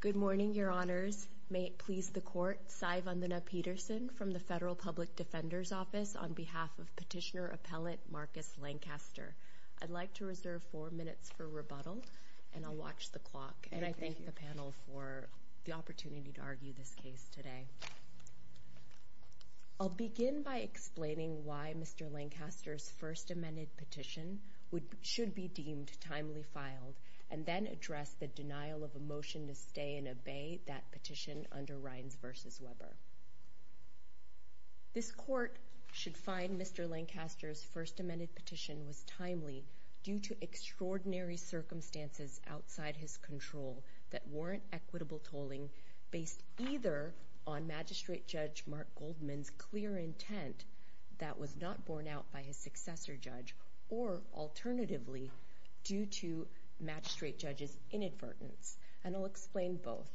Good morning, Your Honors. May it please the Court, Sai Vandana Peterson from the Federal Public Defender's Office on behalf of Petitioner Appellant Marcus Lancaster. I'd like to reserve four minutes for rebuttal, and I'll watch the clock. And I thank the panel for the opportunity to argue this case today. I'll begin by explaining why Mr. Lancaster's First Amended Petition should be deemed timely filed, and then address the denial of a motion to stay and obey that petition under Rhines v. Weber. This Court should find Mr. Lancaster's First Amended Petition was timely due to extraordinary circumstances outside his control that warrant equitable tolling based either on Magistrate Judge Mark Goldman's clear intent that was not borne out by his successor judge, or alternatively, due to Magistrate Judge's inadvertence. And I'll explain both.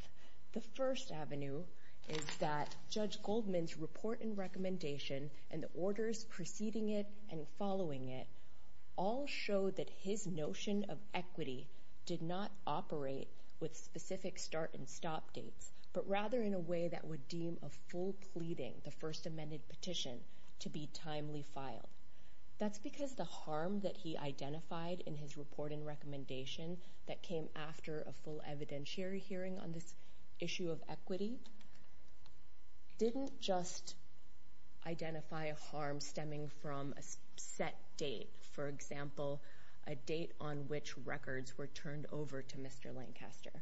The first avenue is that Judge Goldman's report and recommendation and the orders preceding it and following it all show that his notion of equity did not operate with specific start and stop dates, but rather in a way that would deem a full pleading the First Amended Petition to be timely filed. That's because the harm that he identified in his report and recommendation that came after a full evidentiary hearing on this issue of equity didn't just identify a harm stemming from a set date, for example, a date on which records were turned over to Mr. Lancaster,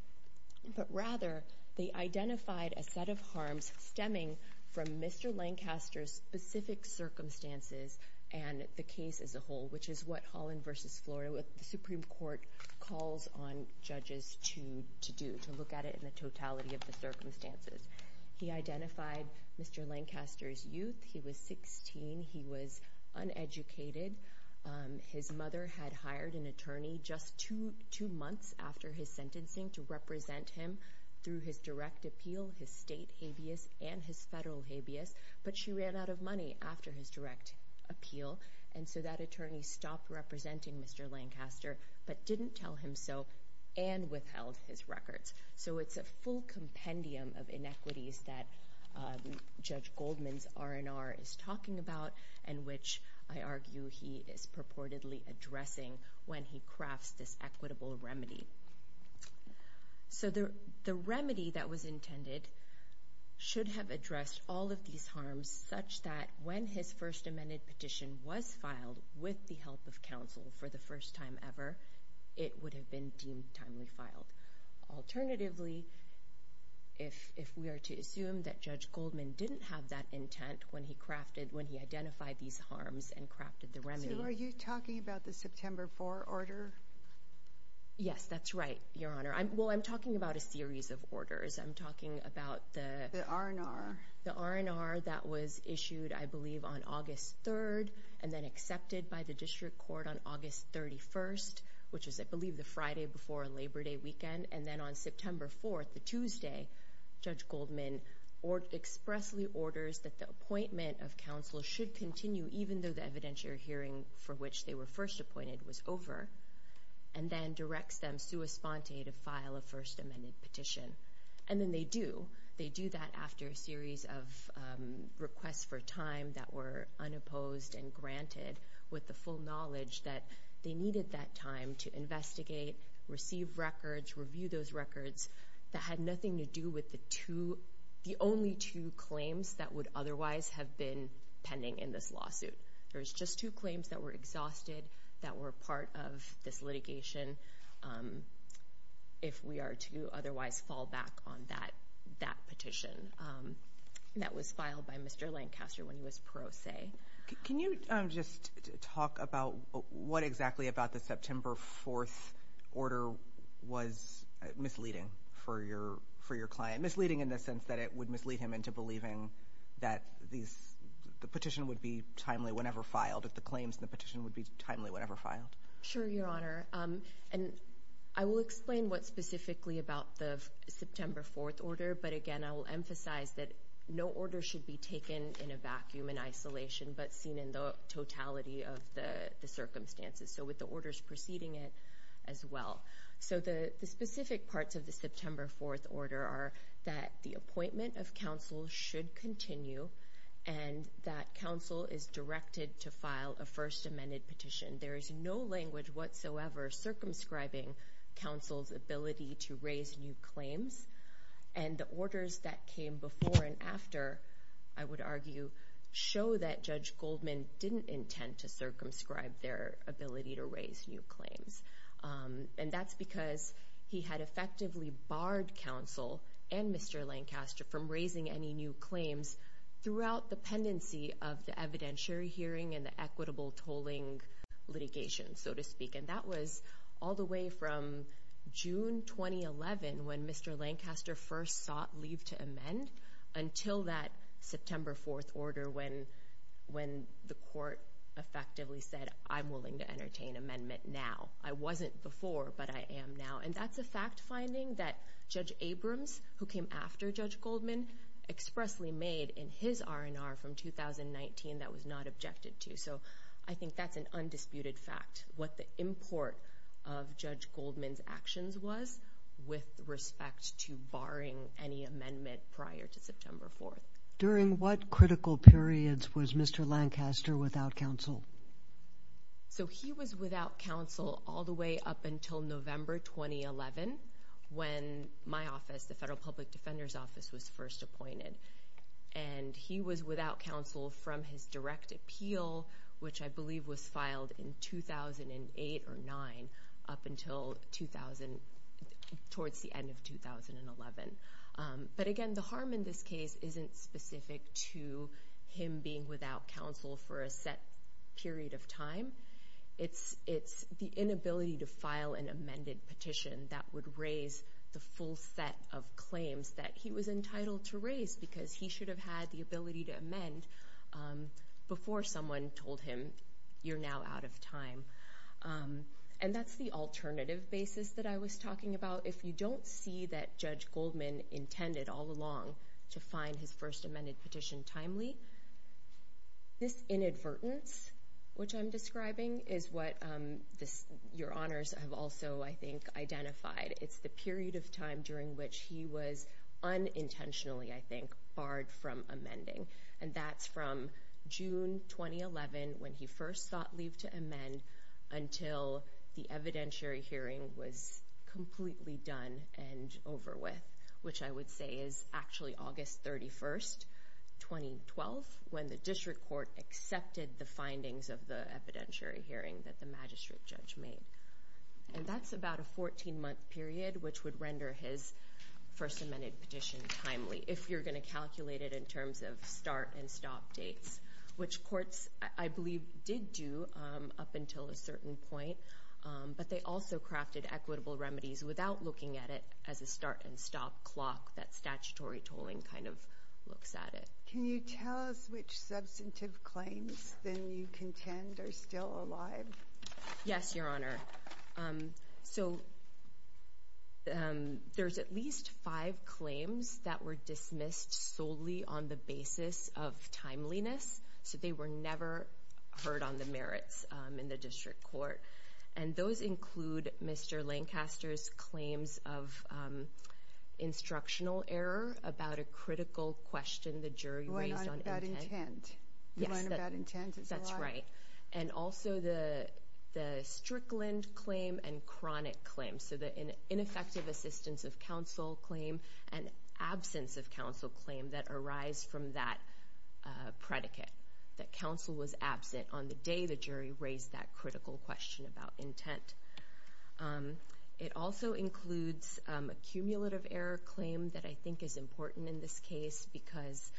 but rather they identified a set of harms stemming from Mr. Lancaster's specific circumstances and the case as a whole, which is what Holland v. Florida, the Supreme Court, calls on judges to to do, to look at it in the totality of the circumstances. He identified Mr. Lancaster's He was 16. He was uneducated. His mother had hired an attorney just two months after his sentencing to represent him through his direct appeal, his state habeas, and his federal habeas, but she ran out of money after his direct appeal, and so that attorney stopped representing Mr. Lancaster, but didn't tell him so, and withheld his records. So it's a full compendium of inequities that Judge Goldman's R&R is talking about and which I argue he is purportedly addressing when he crafts this equitable remedy. So the remedy that was intended should have addressed all of these harms such that when his first amended petition was filed with the help of counsel for the first time ever, it would have been deemed timely filed. Alternatively, if we are to assume that Judge Goldman didn't have that intent when he crafted, when he identified these harms and crafted the remedy. So are you talking about the September 4 order? Yes, that's right, Your Honor. I'm, well, I'm talking about a series of orders. I'm talking about the R&R that was issued, I believe, on August 31st, which is, I believe, the Friday before Labor Day weekend, and then on September 4th, the Tuesday, Judge Goldman expressly orders that the appointment of counsel should continue even though the evidentiary hearing for which they were first appointed was over, and then directs them sua sponte to file a first amended petition, and then they do. They do that after a series of requests for time that were unopposed and granted with the full knowledge that they needed that time to investigate, receive records, review those records that had nothing to do with the two, the only two claims that would otherwise have been pending in this lawsuit. There's just two claims that were exhausted that were part of this litigation. If we are to otherwise fall back on that, that petition that was filed by Mr. Lancaster when he was pro se. Can you just talk about what exactly about the September 4th order was misleading for your, for your client? Misleading in the sense that it would mislead him into believing that these, the petition would be timely whenever filed, that the claims in the petition would be timely whenever filed. Sure, Your Honor, and I will explain what specifically about the September 4th order, but again, I will emphasize that no order should be taken in a vacuum, in isolation, but seen in the totality of the circumstances, so with the orders preceding it as well. So the specific parts of the September 4th order are that the appointment of counsel should continue, and that counsel is directed to file a first circumscribing counsel's ability to raise new claims, and the orders that came before and after, I would argue, show that Judge Goldman didn't intend to circumscribe their ability to raise new claims, and that's because he had effectively barred counsel and Mr. Lancaster from raising any new claims throughout the pendency of the evidentiary hearing and the equitable tolling litigation, so to speak, and that was all the way from June 2011, when Mr. Lancaster first sought leave to amend, until that September 4th order, when the court effectively said, I'm willing to entertain amendment now. I wasn't before, but I am now, and that's a fact-finding that Judge Abrams, who came after Judge Goldman, expressly made in his R&R from 2019, that was not objected to, so I think that's an undisputed fact, what the import of Judge Goldman's actions was with respect to barring any amendment prior to September 4th. During what critical periods was Mr. Lancaster without counsel? So he was without counsel all the way up until November 2011, when my office, the Federal Public Defender's Office, was first appointed, and he was without counsel from his direct appeal, which I believe was filed in 2008 or 2009, up until 2000, towards the end of 2011, but again, the harm in this case isn't specific to him being without counsel for a set period of claims that he was entitled to raise, because he should have had the ability to amend before someone told him, you're now out of time, and that's the alternative basis that I was talking about. If you don't see that Judge Goldman intended all along to find his first amended petition timely, this inadvertence, which I'm describing, is what your honors have also, I think, identified. It's the period of time during which he was unintentionally, I think, barred from amending, and that's from June 2011, when he first sought leave to amend, until the evidentiary hearing was completely done and over with, which I would say is actually August 31st, 2012, when the District Court accepted the findings of the evidentiary hearing that the magistrate judge made, and that's about a 14-month period, which would render his first amended petition timely, if you're going to calculate it in terms of start and stop dates, which courts, I believe, did do up until a certain point, but they also crafted equitable remedies without looking at it as a start and stop clock that statutory tolling kind of looks at it. Can you tell us which substantive claims, then, you contend are still alive? Yes, your honor. So, there's at least five claims that were dismissed solely on the basis of timeliness, so they were never heard on the merits in the District Court, and those include Mr. Lancaster's instructional error about a critical question the jury raised on intent. You weren't on bad intent. You weren't on bad intent, it's alive. Yes, that's right, and also the Strickland claim and chronic claim, so the ineffective assistance of counsel claim and absence of counsel claim that arise from that predicate, that counsel was absent on the day the jury raised that critical question about intent. It also includes a cumulative error claim that I think is important in this case because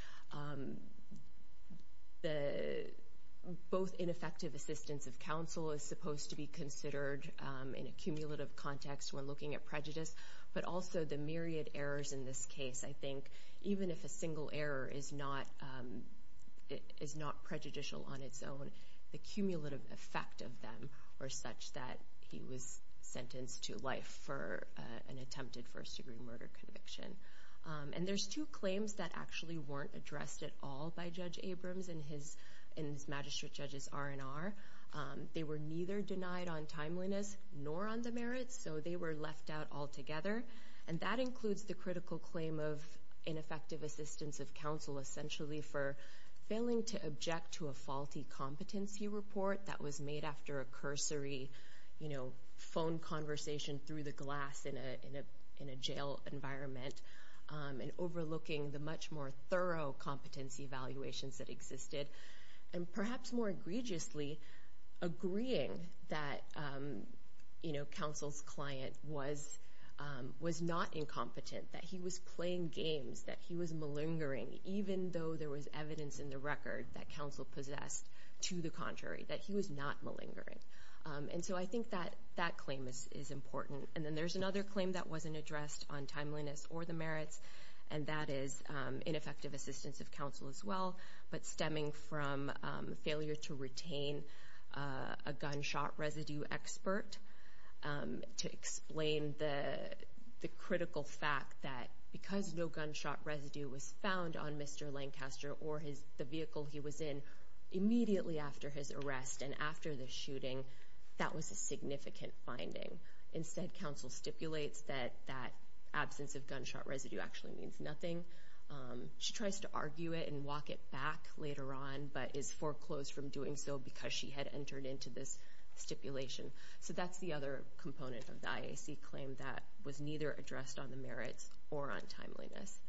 both ineffective assistance of counsel is supposed to be considered in a cumulative context when looking at prejudice, but also the myriad errors in this case, I think, even if a single error is not prejudicial on its own, the cumulative effect of them are such that he was sentenced to life for an attempted first-degree murder conviction, and there's two claims that actually weren't addressed at all by Judge Abrams in his magistrate judge's R&R. They were neither denied on timeliness nor on the merits, so they were left out altogether, and that includes the critical claim of ineffective assistance of counsel essentially for failing to object to a faulty competency report that was made after a cursory phone conversation through the glass in a jail environment, and overlooking the much more thorough competency evaluations that existed, and perhaps more egregiously, agreeing that counsel's client was not incompetent, that he was playing games, that he was malingering, even though there was evidence in the record that counsel possessed to the contrary, that he was not malingering, and so I think that that claim is important, and then there's another claim that wasn't addressed on timeliness or the merits, and that is ineffective assistance of counsel as well, but stemming from failure to retain a gunshot residue expert to explain the critical fact that because no gunshot residue was found on Mr. Lancaster or the vehicle he was in immediately after his arrest and after the shooting, that was a significant finding. Instead, counsel stipulates that that absence of gunshot residue actually means nothing. She tries to argue it and walk it back later on, but is foreclosed from doing so because she had entered into this stipulation, so that's the other component of the IAC claim that was neither addressed on the merits or on timeliness,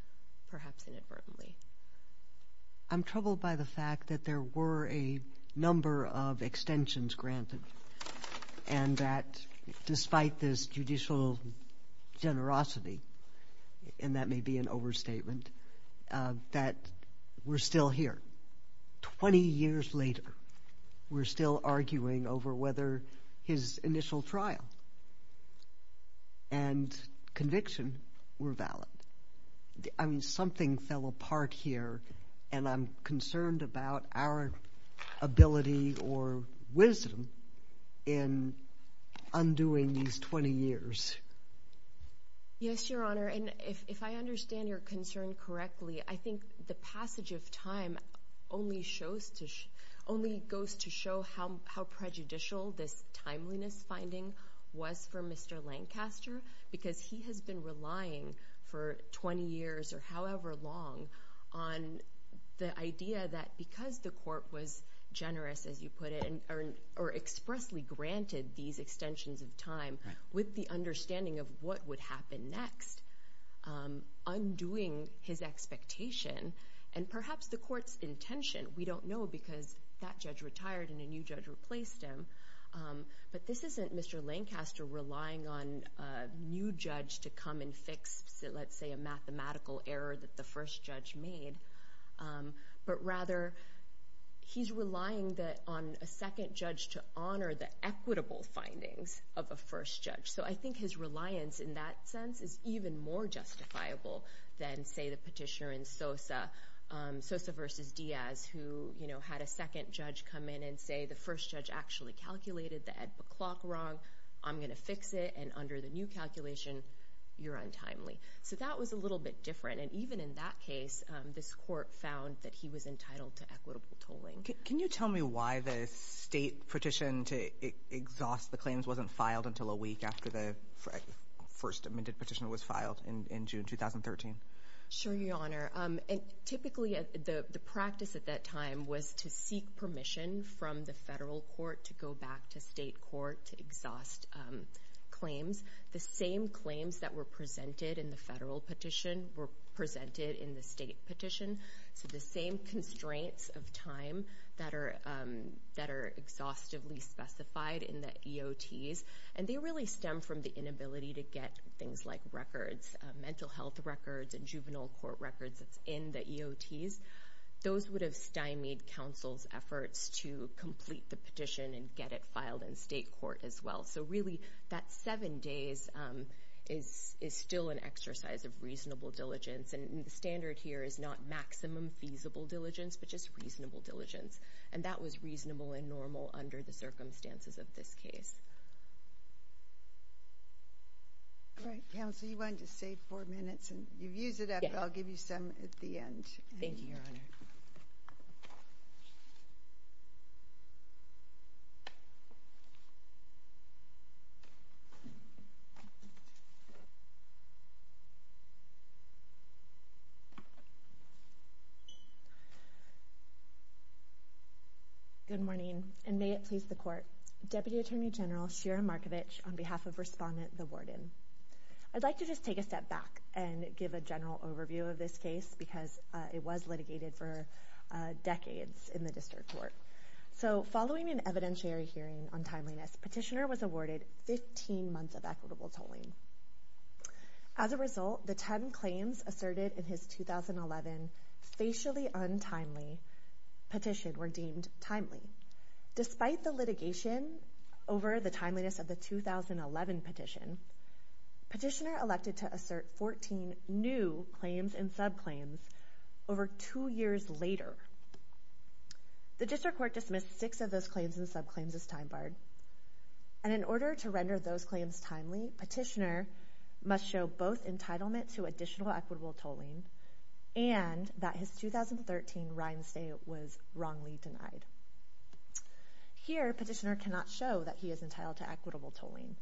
perhaps inadvertently. I'm troubled by the fact that there were a number of extensions granted, and that despite this judicial generosity, and that may be an overstatement, that we're still here. Twenty years later, we're still arguing over whether his initial trial and conviction were valid. I mean, something fell apart here, and I'm concerned about our ability or wisdom in undoing these 20 years. Yes, Your Honor, and if I understand your concern correctly, I think the passage of time only goes to show how prejudicial this timeliness finding was for Mr. Lancaster because he has been relying for 20 years or however long on the idea that because the court was generous, as you put it, or expressly granted these extensions of time with the understanding of what would happen next, undoing his expectation and perhaps the court's intention, we don't know because that judge retired and a new judge replaced him, but this isn't Mr. Lancaster relying on a new judge to come and fix, let's say, a mathematical error that the first judge made, but rather he's relying on a second judge to honor the equitable findings of a first judge. So I think his reliance in that sense is even more justifiable than, say, the petitioner in Sosa, Sosa v. Diaz, who had a second judge come in and say the first judge actually calculated the ad hoc clock wrong. I'm going to fix it, and under the new calculation, you're untimely. So that was a little bit different, and even in that case, this court found that he was entitled to equitable tolling. Can you tell me why the state petition to exhaust the claims wasn't filed until a week after the first amended petition was filed in June 2013? Sure, Your Honor. Typically, the practice at that time was to seek permission from the federal court to go back to state court to exhaust claims. The same claims that were presented in the federal petition were presented in the state petition, so the same constraints of time that are exhaustively specified in the EOTs, and they really stem from the inability to get things like records, mental health records and juvenile court records that's in the EOTs. Those would have stymied counsel's efforts to complete the petition and get it filed in state court as well. So really, that seven days is still an exercise of reasonable diligence, and the standard here is not maximum feasible diligence, but just reasonable diligence, and that was reasonable and normal under the circumstances of this case. All right, counsel, you wanted to save four minutes, and you've used it up, but I'll give you some at the end. Thank you, Your Honor. Good morning, and may it please the Court. Deputy Attorney General Shira Markovich on behalf of Respondent the Warden. I'd like to just take a step back and give a general overview of this case, because it was litigated for decades in the district court. So following an evidentiary hearing on timeliness, petitioner was awarded 15 months of equitable tolling. As a result, the 10 claims asserted in his 2011 facially untimely petition were deemed timely. Despite the litigation over the timeliness of the 2011 petition, petitioner elected to assert 14 new claims and subclaims over two years later. The district court dismissed six of those claims and subclaims as time barred, and in order to render those claims timely, petitioner must show both entitlement to additional equitable tolling and that his 2013 rind stay was wrongly denied. Here, petitioner cannot show that he is entitled to equitable tolling.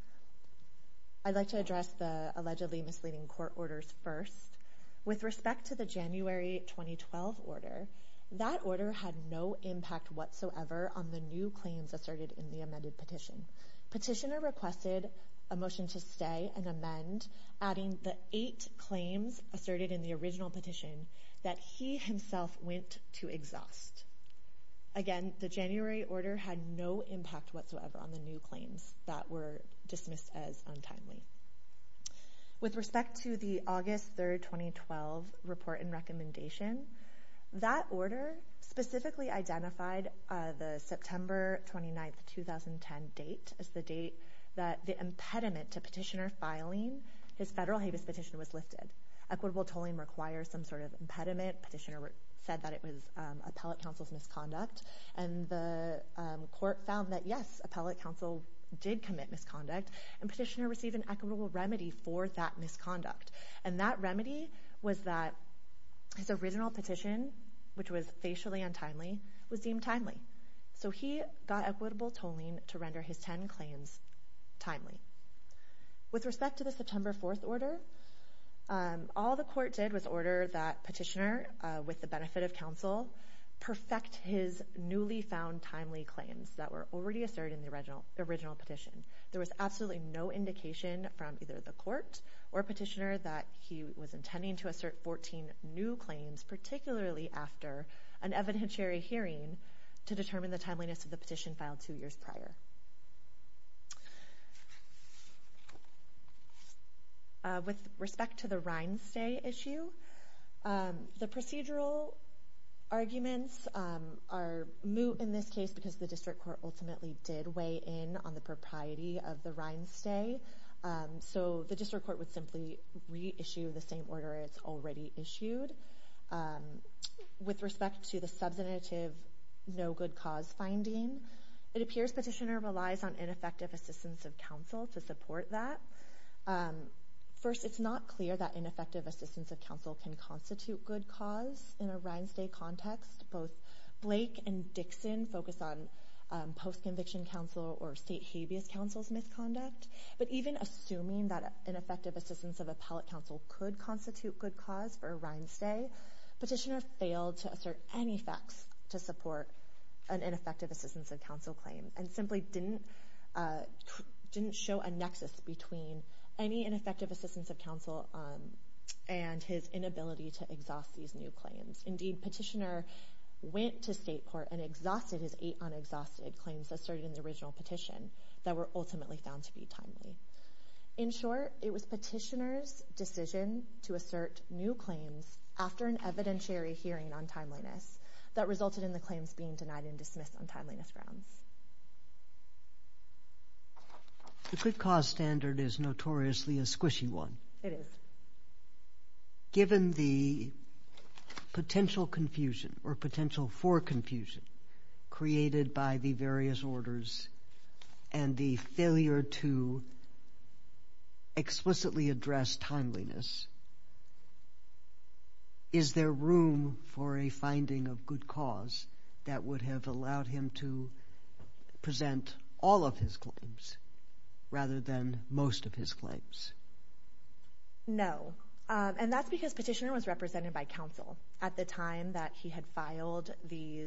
I'd like to address the allegedly misleading court orders first. With respect to the January 2012 order, that order had no impact whatsoever on the new claims asserted in the amended petition. Petitioner requested a motion to stay and amend, adding the eight claims asserted in the original petition that he himself went to exhaust. Again, the January order had no impact whatsoever on the new claims that were dismissed as untimely. With respect to the August 3, 2012 report and recommendation, that order specifically identified the September 29, 2010 date as the date that the impediment to petitioner filing his federal habeas petition was lifted. Equitable tolling requires some sort of impediment. Petitioner said that it was appellate counsel's misconduct, and the court found that, yes, appellate counsel did commit misconduct, and petitioner received an equitable remedy for that misconduct. And that remedy was that his original petition, which was facially untimely, was deemed timely. So he got equitable tolling to render his ten claims timely. With respect to the September 4 order, all the court did was order that petitioner, with the benefit of counsel, perfect his newly found timely claims that were already asserted in the original petition. There was absolutely no indication from either the court or petitioner that he was intending to assert 14 new claims, particularly after an evidentiary hearing, to determine the timeliness of the petition filed two years prior. With respect to the Rhinestay issue, the procedural arguments are moot in this case because the district court ultimately did weigh in on the propriety of the Rhinestay. So the district court would simply reissue the same order it's already issued. With respect to the substantive no good cause finding, it appears petitioner relies on ineffective assistance of counsel to support that. First, it's not clear that ineffective assistance of counsel can constitute good cause in a Rhinestay context. Both Blake and Dixon focus on post-conviction counsel or state habeas counsel's misconduct. But even assuming that ineffective assistance of appellate counsel could constitute good cause for a Rhinestay, petitioner failed to assert any facts to support an ineffective assistance of counsel claim and simply didn't show a nexus between any ineffective assistance of counsel and his inability to exhaust these new claims. Indeed, petitioner went to state court and exhausted his eight unexhausted claims asserted in the original petition that were ultimately found to be timely. In short, it was petitioner's decision to assert new claims after an evidentiary hearing on timeliness that resulted in the claims being denied and dismissed on timeliness grounds. The good cause standard is notoriously a squishy one. It is. Given the potential confusion or potential for confusion created by the various orders and the failure to explicitly address timeliness, is there room for a finding of good cause that would have allowed him to present all of his claims rather than most of his claims? No. And that's because petitioner was represented by counsel at the time that he had filed the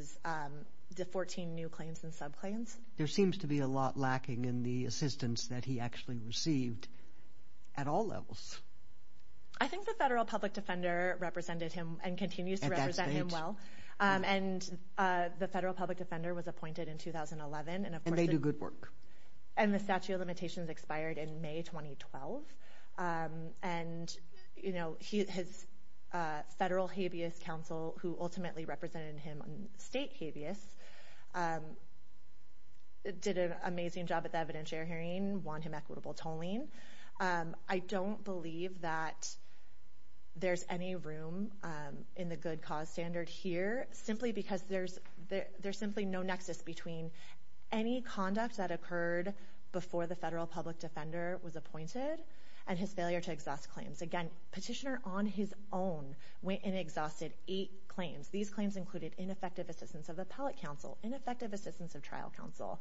14 new claims and subclaims. There seems to be a lot lacking in the assistance that he actually received at all levels. I think the federal public defender represented him and continues to represent him well. And the federal public defender was appointed in 2011. And they do good work. And the statute of limitations expired in May 2012. And his federal habeas counsel, who ultimately represented him on state habeas, did an amazing job at the evidentiary hearing, won him equitable tolling. I don't believe that there's any room in the good cause standard here simply because there's simply no nexus between any conduct that occurred before the federal public defender was appointed and his failure to exhaust claims. Again, petitioner on his own went and exhausted eight claims. These claims included ineffective assistance of appellate counsel, ineffective assistance of trial counsel,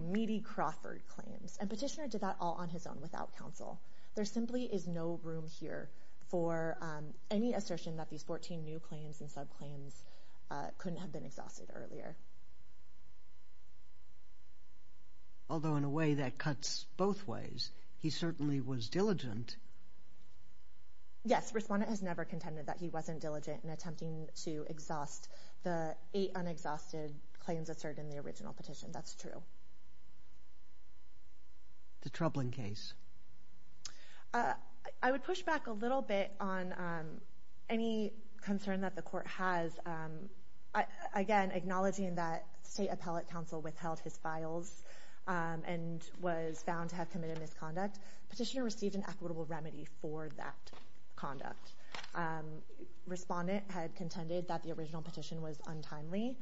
meaty Crawford claims. And petitioner did that all on his own without counsel. There simply is no room here for any assertion that these 14 new claims and subclaims couldn't have been exhausted earlier. Although, in a way, that cuts both ways. He certainly was diligent. Yes. Respondent has never contended that he wasn't diligent in attempting to exhaust the eight unexhausted claims asserted in the original petition. That's true. The troubling case. I would push back a little bit on any concern that the court has. Again, acknowledging that state appellate counsel withheld his files and was found to have committed misconduct, petitioner received an equitable remedy for that conduct. Respondent had contended that the original petition was untimely,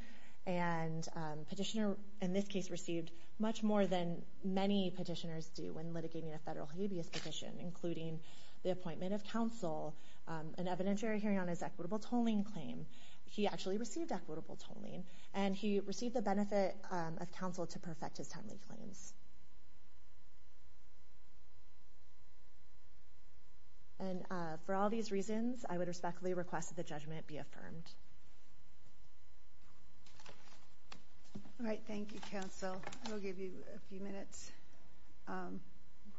and petitioner, in this case, received much more than many petitioners do when litigating a federal habeas petition, including the appointment of counsel, an evidentiary hearing on his equitable tolling claim. He actually received equitable tolling, and he received the benefit of counsel to perfect his timely claims. And for all these reasons, I would respectfully request that the judgment be affirmed. All right. Thank you, counsel. We'll give you a few minutes.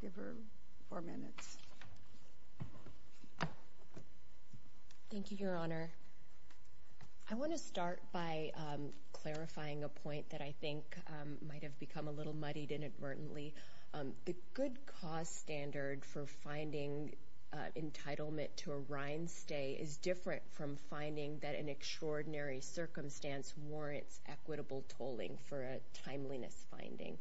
Give her four minutes. Thank you, Your Honor. I want to start by clarifying a point that I think might have become a little muddied inadvertently. The good cause standard for finding entitlement to a rind stay is different from finding that an extraordinary circumstance warrants equitable tolling for a timeliness finding.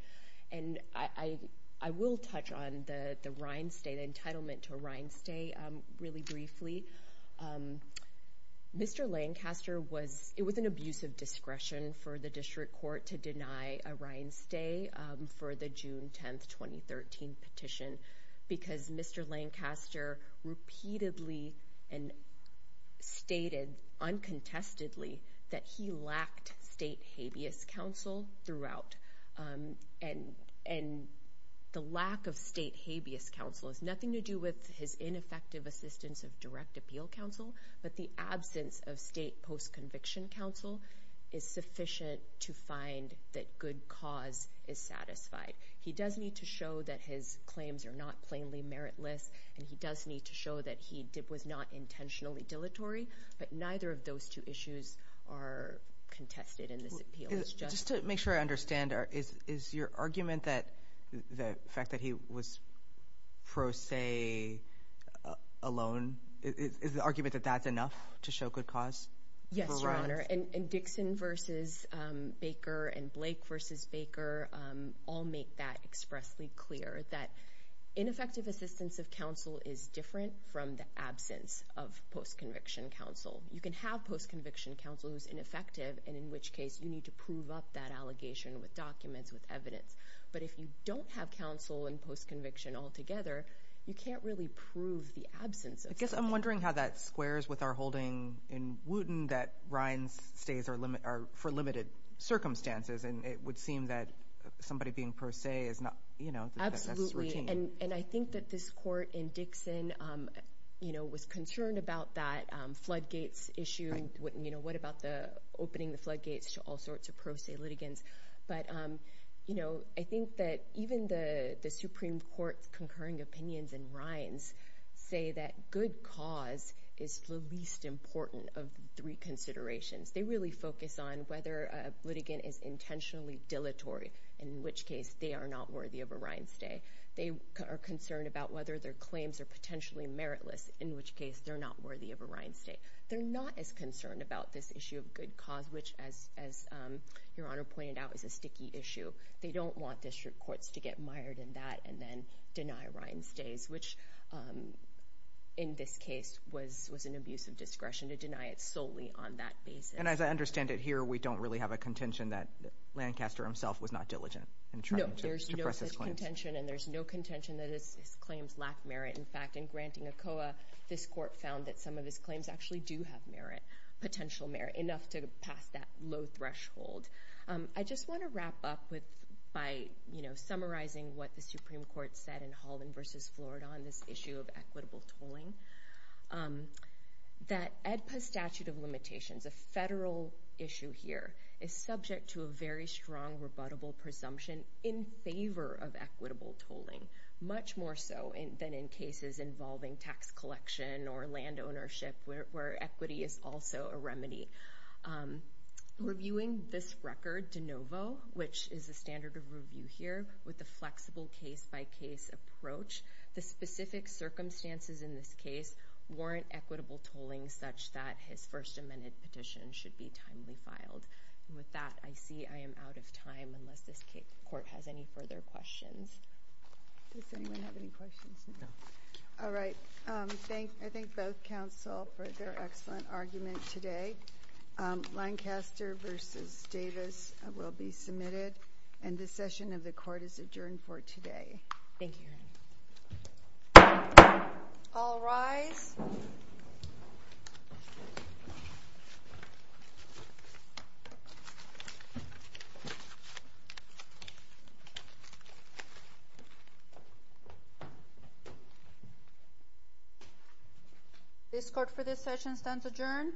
And I will touch on the rind stay, the entitlement to a rind stay, really briefly. Mr. Lancaster was – it was an abusive discretion for the district court to deny a rind stay for the June 10, 2013 petition because Mr. Lancaster repeatedly and stated uncontestedly that he lacked state habeas counsel throughout. And the lack of state habeas counsel has nothing to do with his ineffective assistance of direct appeal counsel, but the absence of state post-conviction counsel is sufficient to find that good cause is satisfied. He does need to show that his claims are not plainly meritless, and he does need to show that he was not intentionally dilatory, but neither of those two issues are contested in this appeal. Just to make sure I understand, is your argument that the fact that he was pro se alone – is the argument that that's enough to show good cause? Yes, Your Honor. And Dixon versus Baker and Blake versus Baker all make that expressly clear, that ineffective assistance of counsel is different from the absence of post-conviction counsel. You can have post-conviction counsel who's ineffective, and in which case you need to prove up that allegation with documents, with evidence. But if you don't have counsel and post-conviction altogether, you can't really prove the absence of – I guess I'm wondering how that squares with our holding in Wooten that Ryan's stays are for limited circumstances, and it would seem that somebody being pro se is not – Absolutely, and I think that this court in Dixon was concerned about that floodgates issue. What about opening the floodgates to all sorts of pro se litigants? But, you know, I think that even the Supreme Court's concurring opinions in Ryan's say that good cause is the least important of three considerations. They really focus on whether a litigant is intentionally dilatory, in which case they are not worthy of a Ryan stay. They are concerned about whether their claims are potentially meritless, in which case they're not worthy of a Ryan stay. They're not as concerned about this issue of good cause, which, as Your Honor pointed out, is a sticky issue. They don't want district courts to get mired in that and then deny Ryan stays, which in this case was an abuse of discretion to deny it solely on that basis. And as I understand it here, we don't really have a contention that Lancaster himself was not diligent in trying to press his claims. No, there's no such contention, and there's no contention that his claims lack merit. In fact, in granting ACOA, this court found that some of his claims actually do have merit, potential merit, enough to pass that low threshold. I just want to wrap up by, you know, summarizing what the Supreme Court said in Holland v. Florida on this issue of equitable tolling, that AEDPA's statute of limitations, a federal issue here, is subject to a very strong rebuttable presumption in favor of equitable tolling, much more so than in cases involving tax collection or land ownership, where equity is also a remedy. Reviewing this record de novo, which is the standard of review here, with the flexible case-by-case approach, the specific circumstances in this case warrant equitable tolling such that his First Amendment petition should be timely filed. And with that, I see I am out of time, unless this court has any further questions. Does anyone have any questions? No. All right. I thank both counsel for their excellent argument today. Lancaster v. Davis will be submitted, and this session of the court is adjourned for today. Thank you, Your Honor. All rise. This court for this session stands adjourned.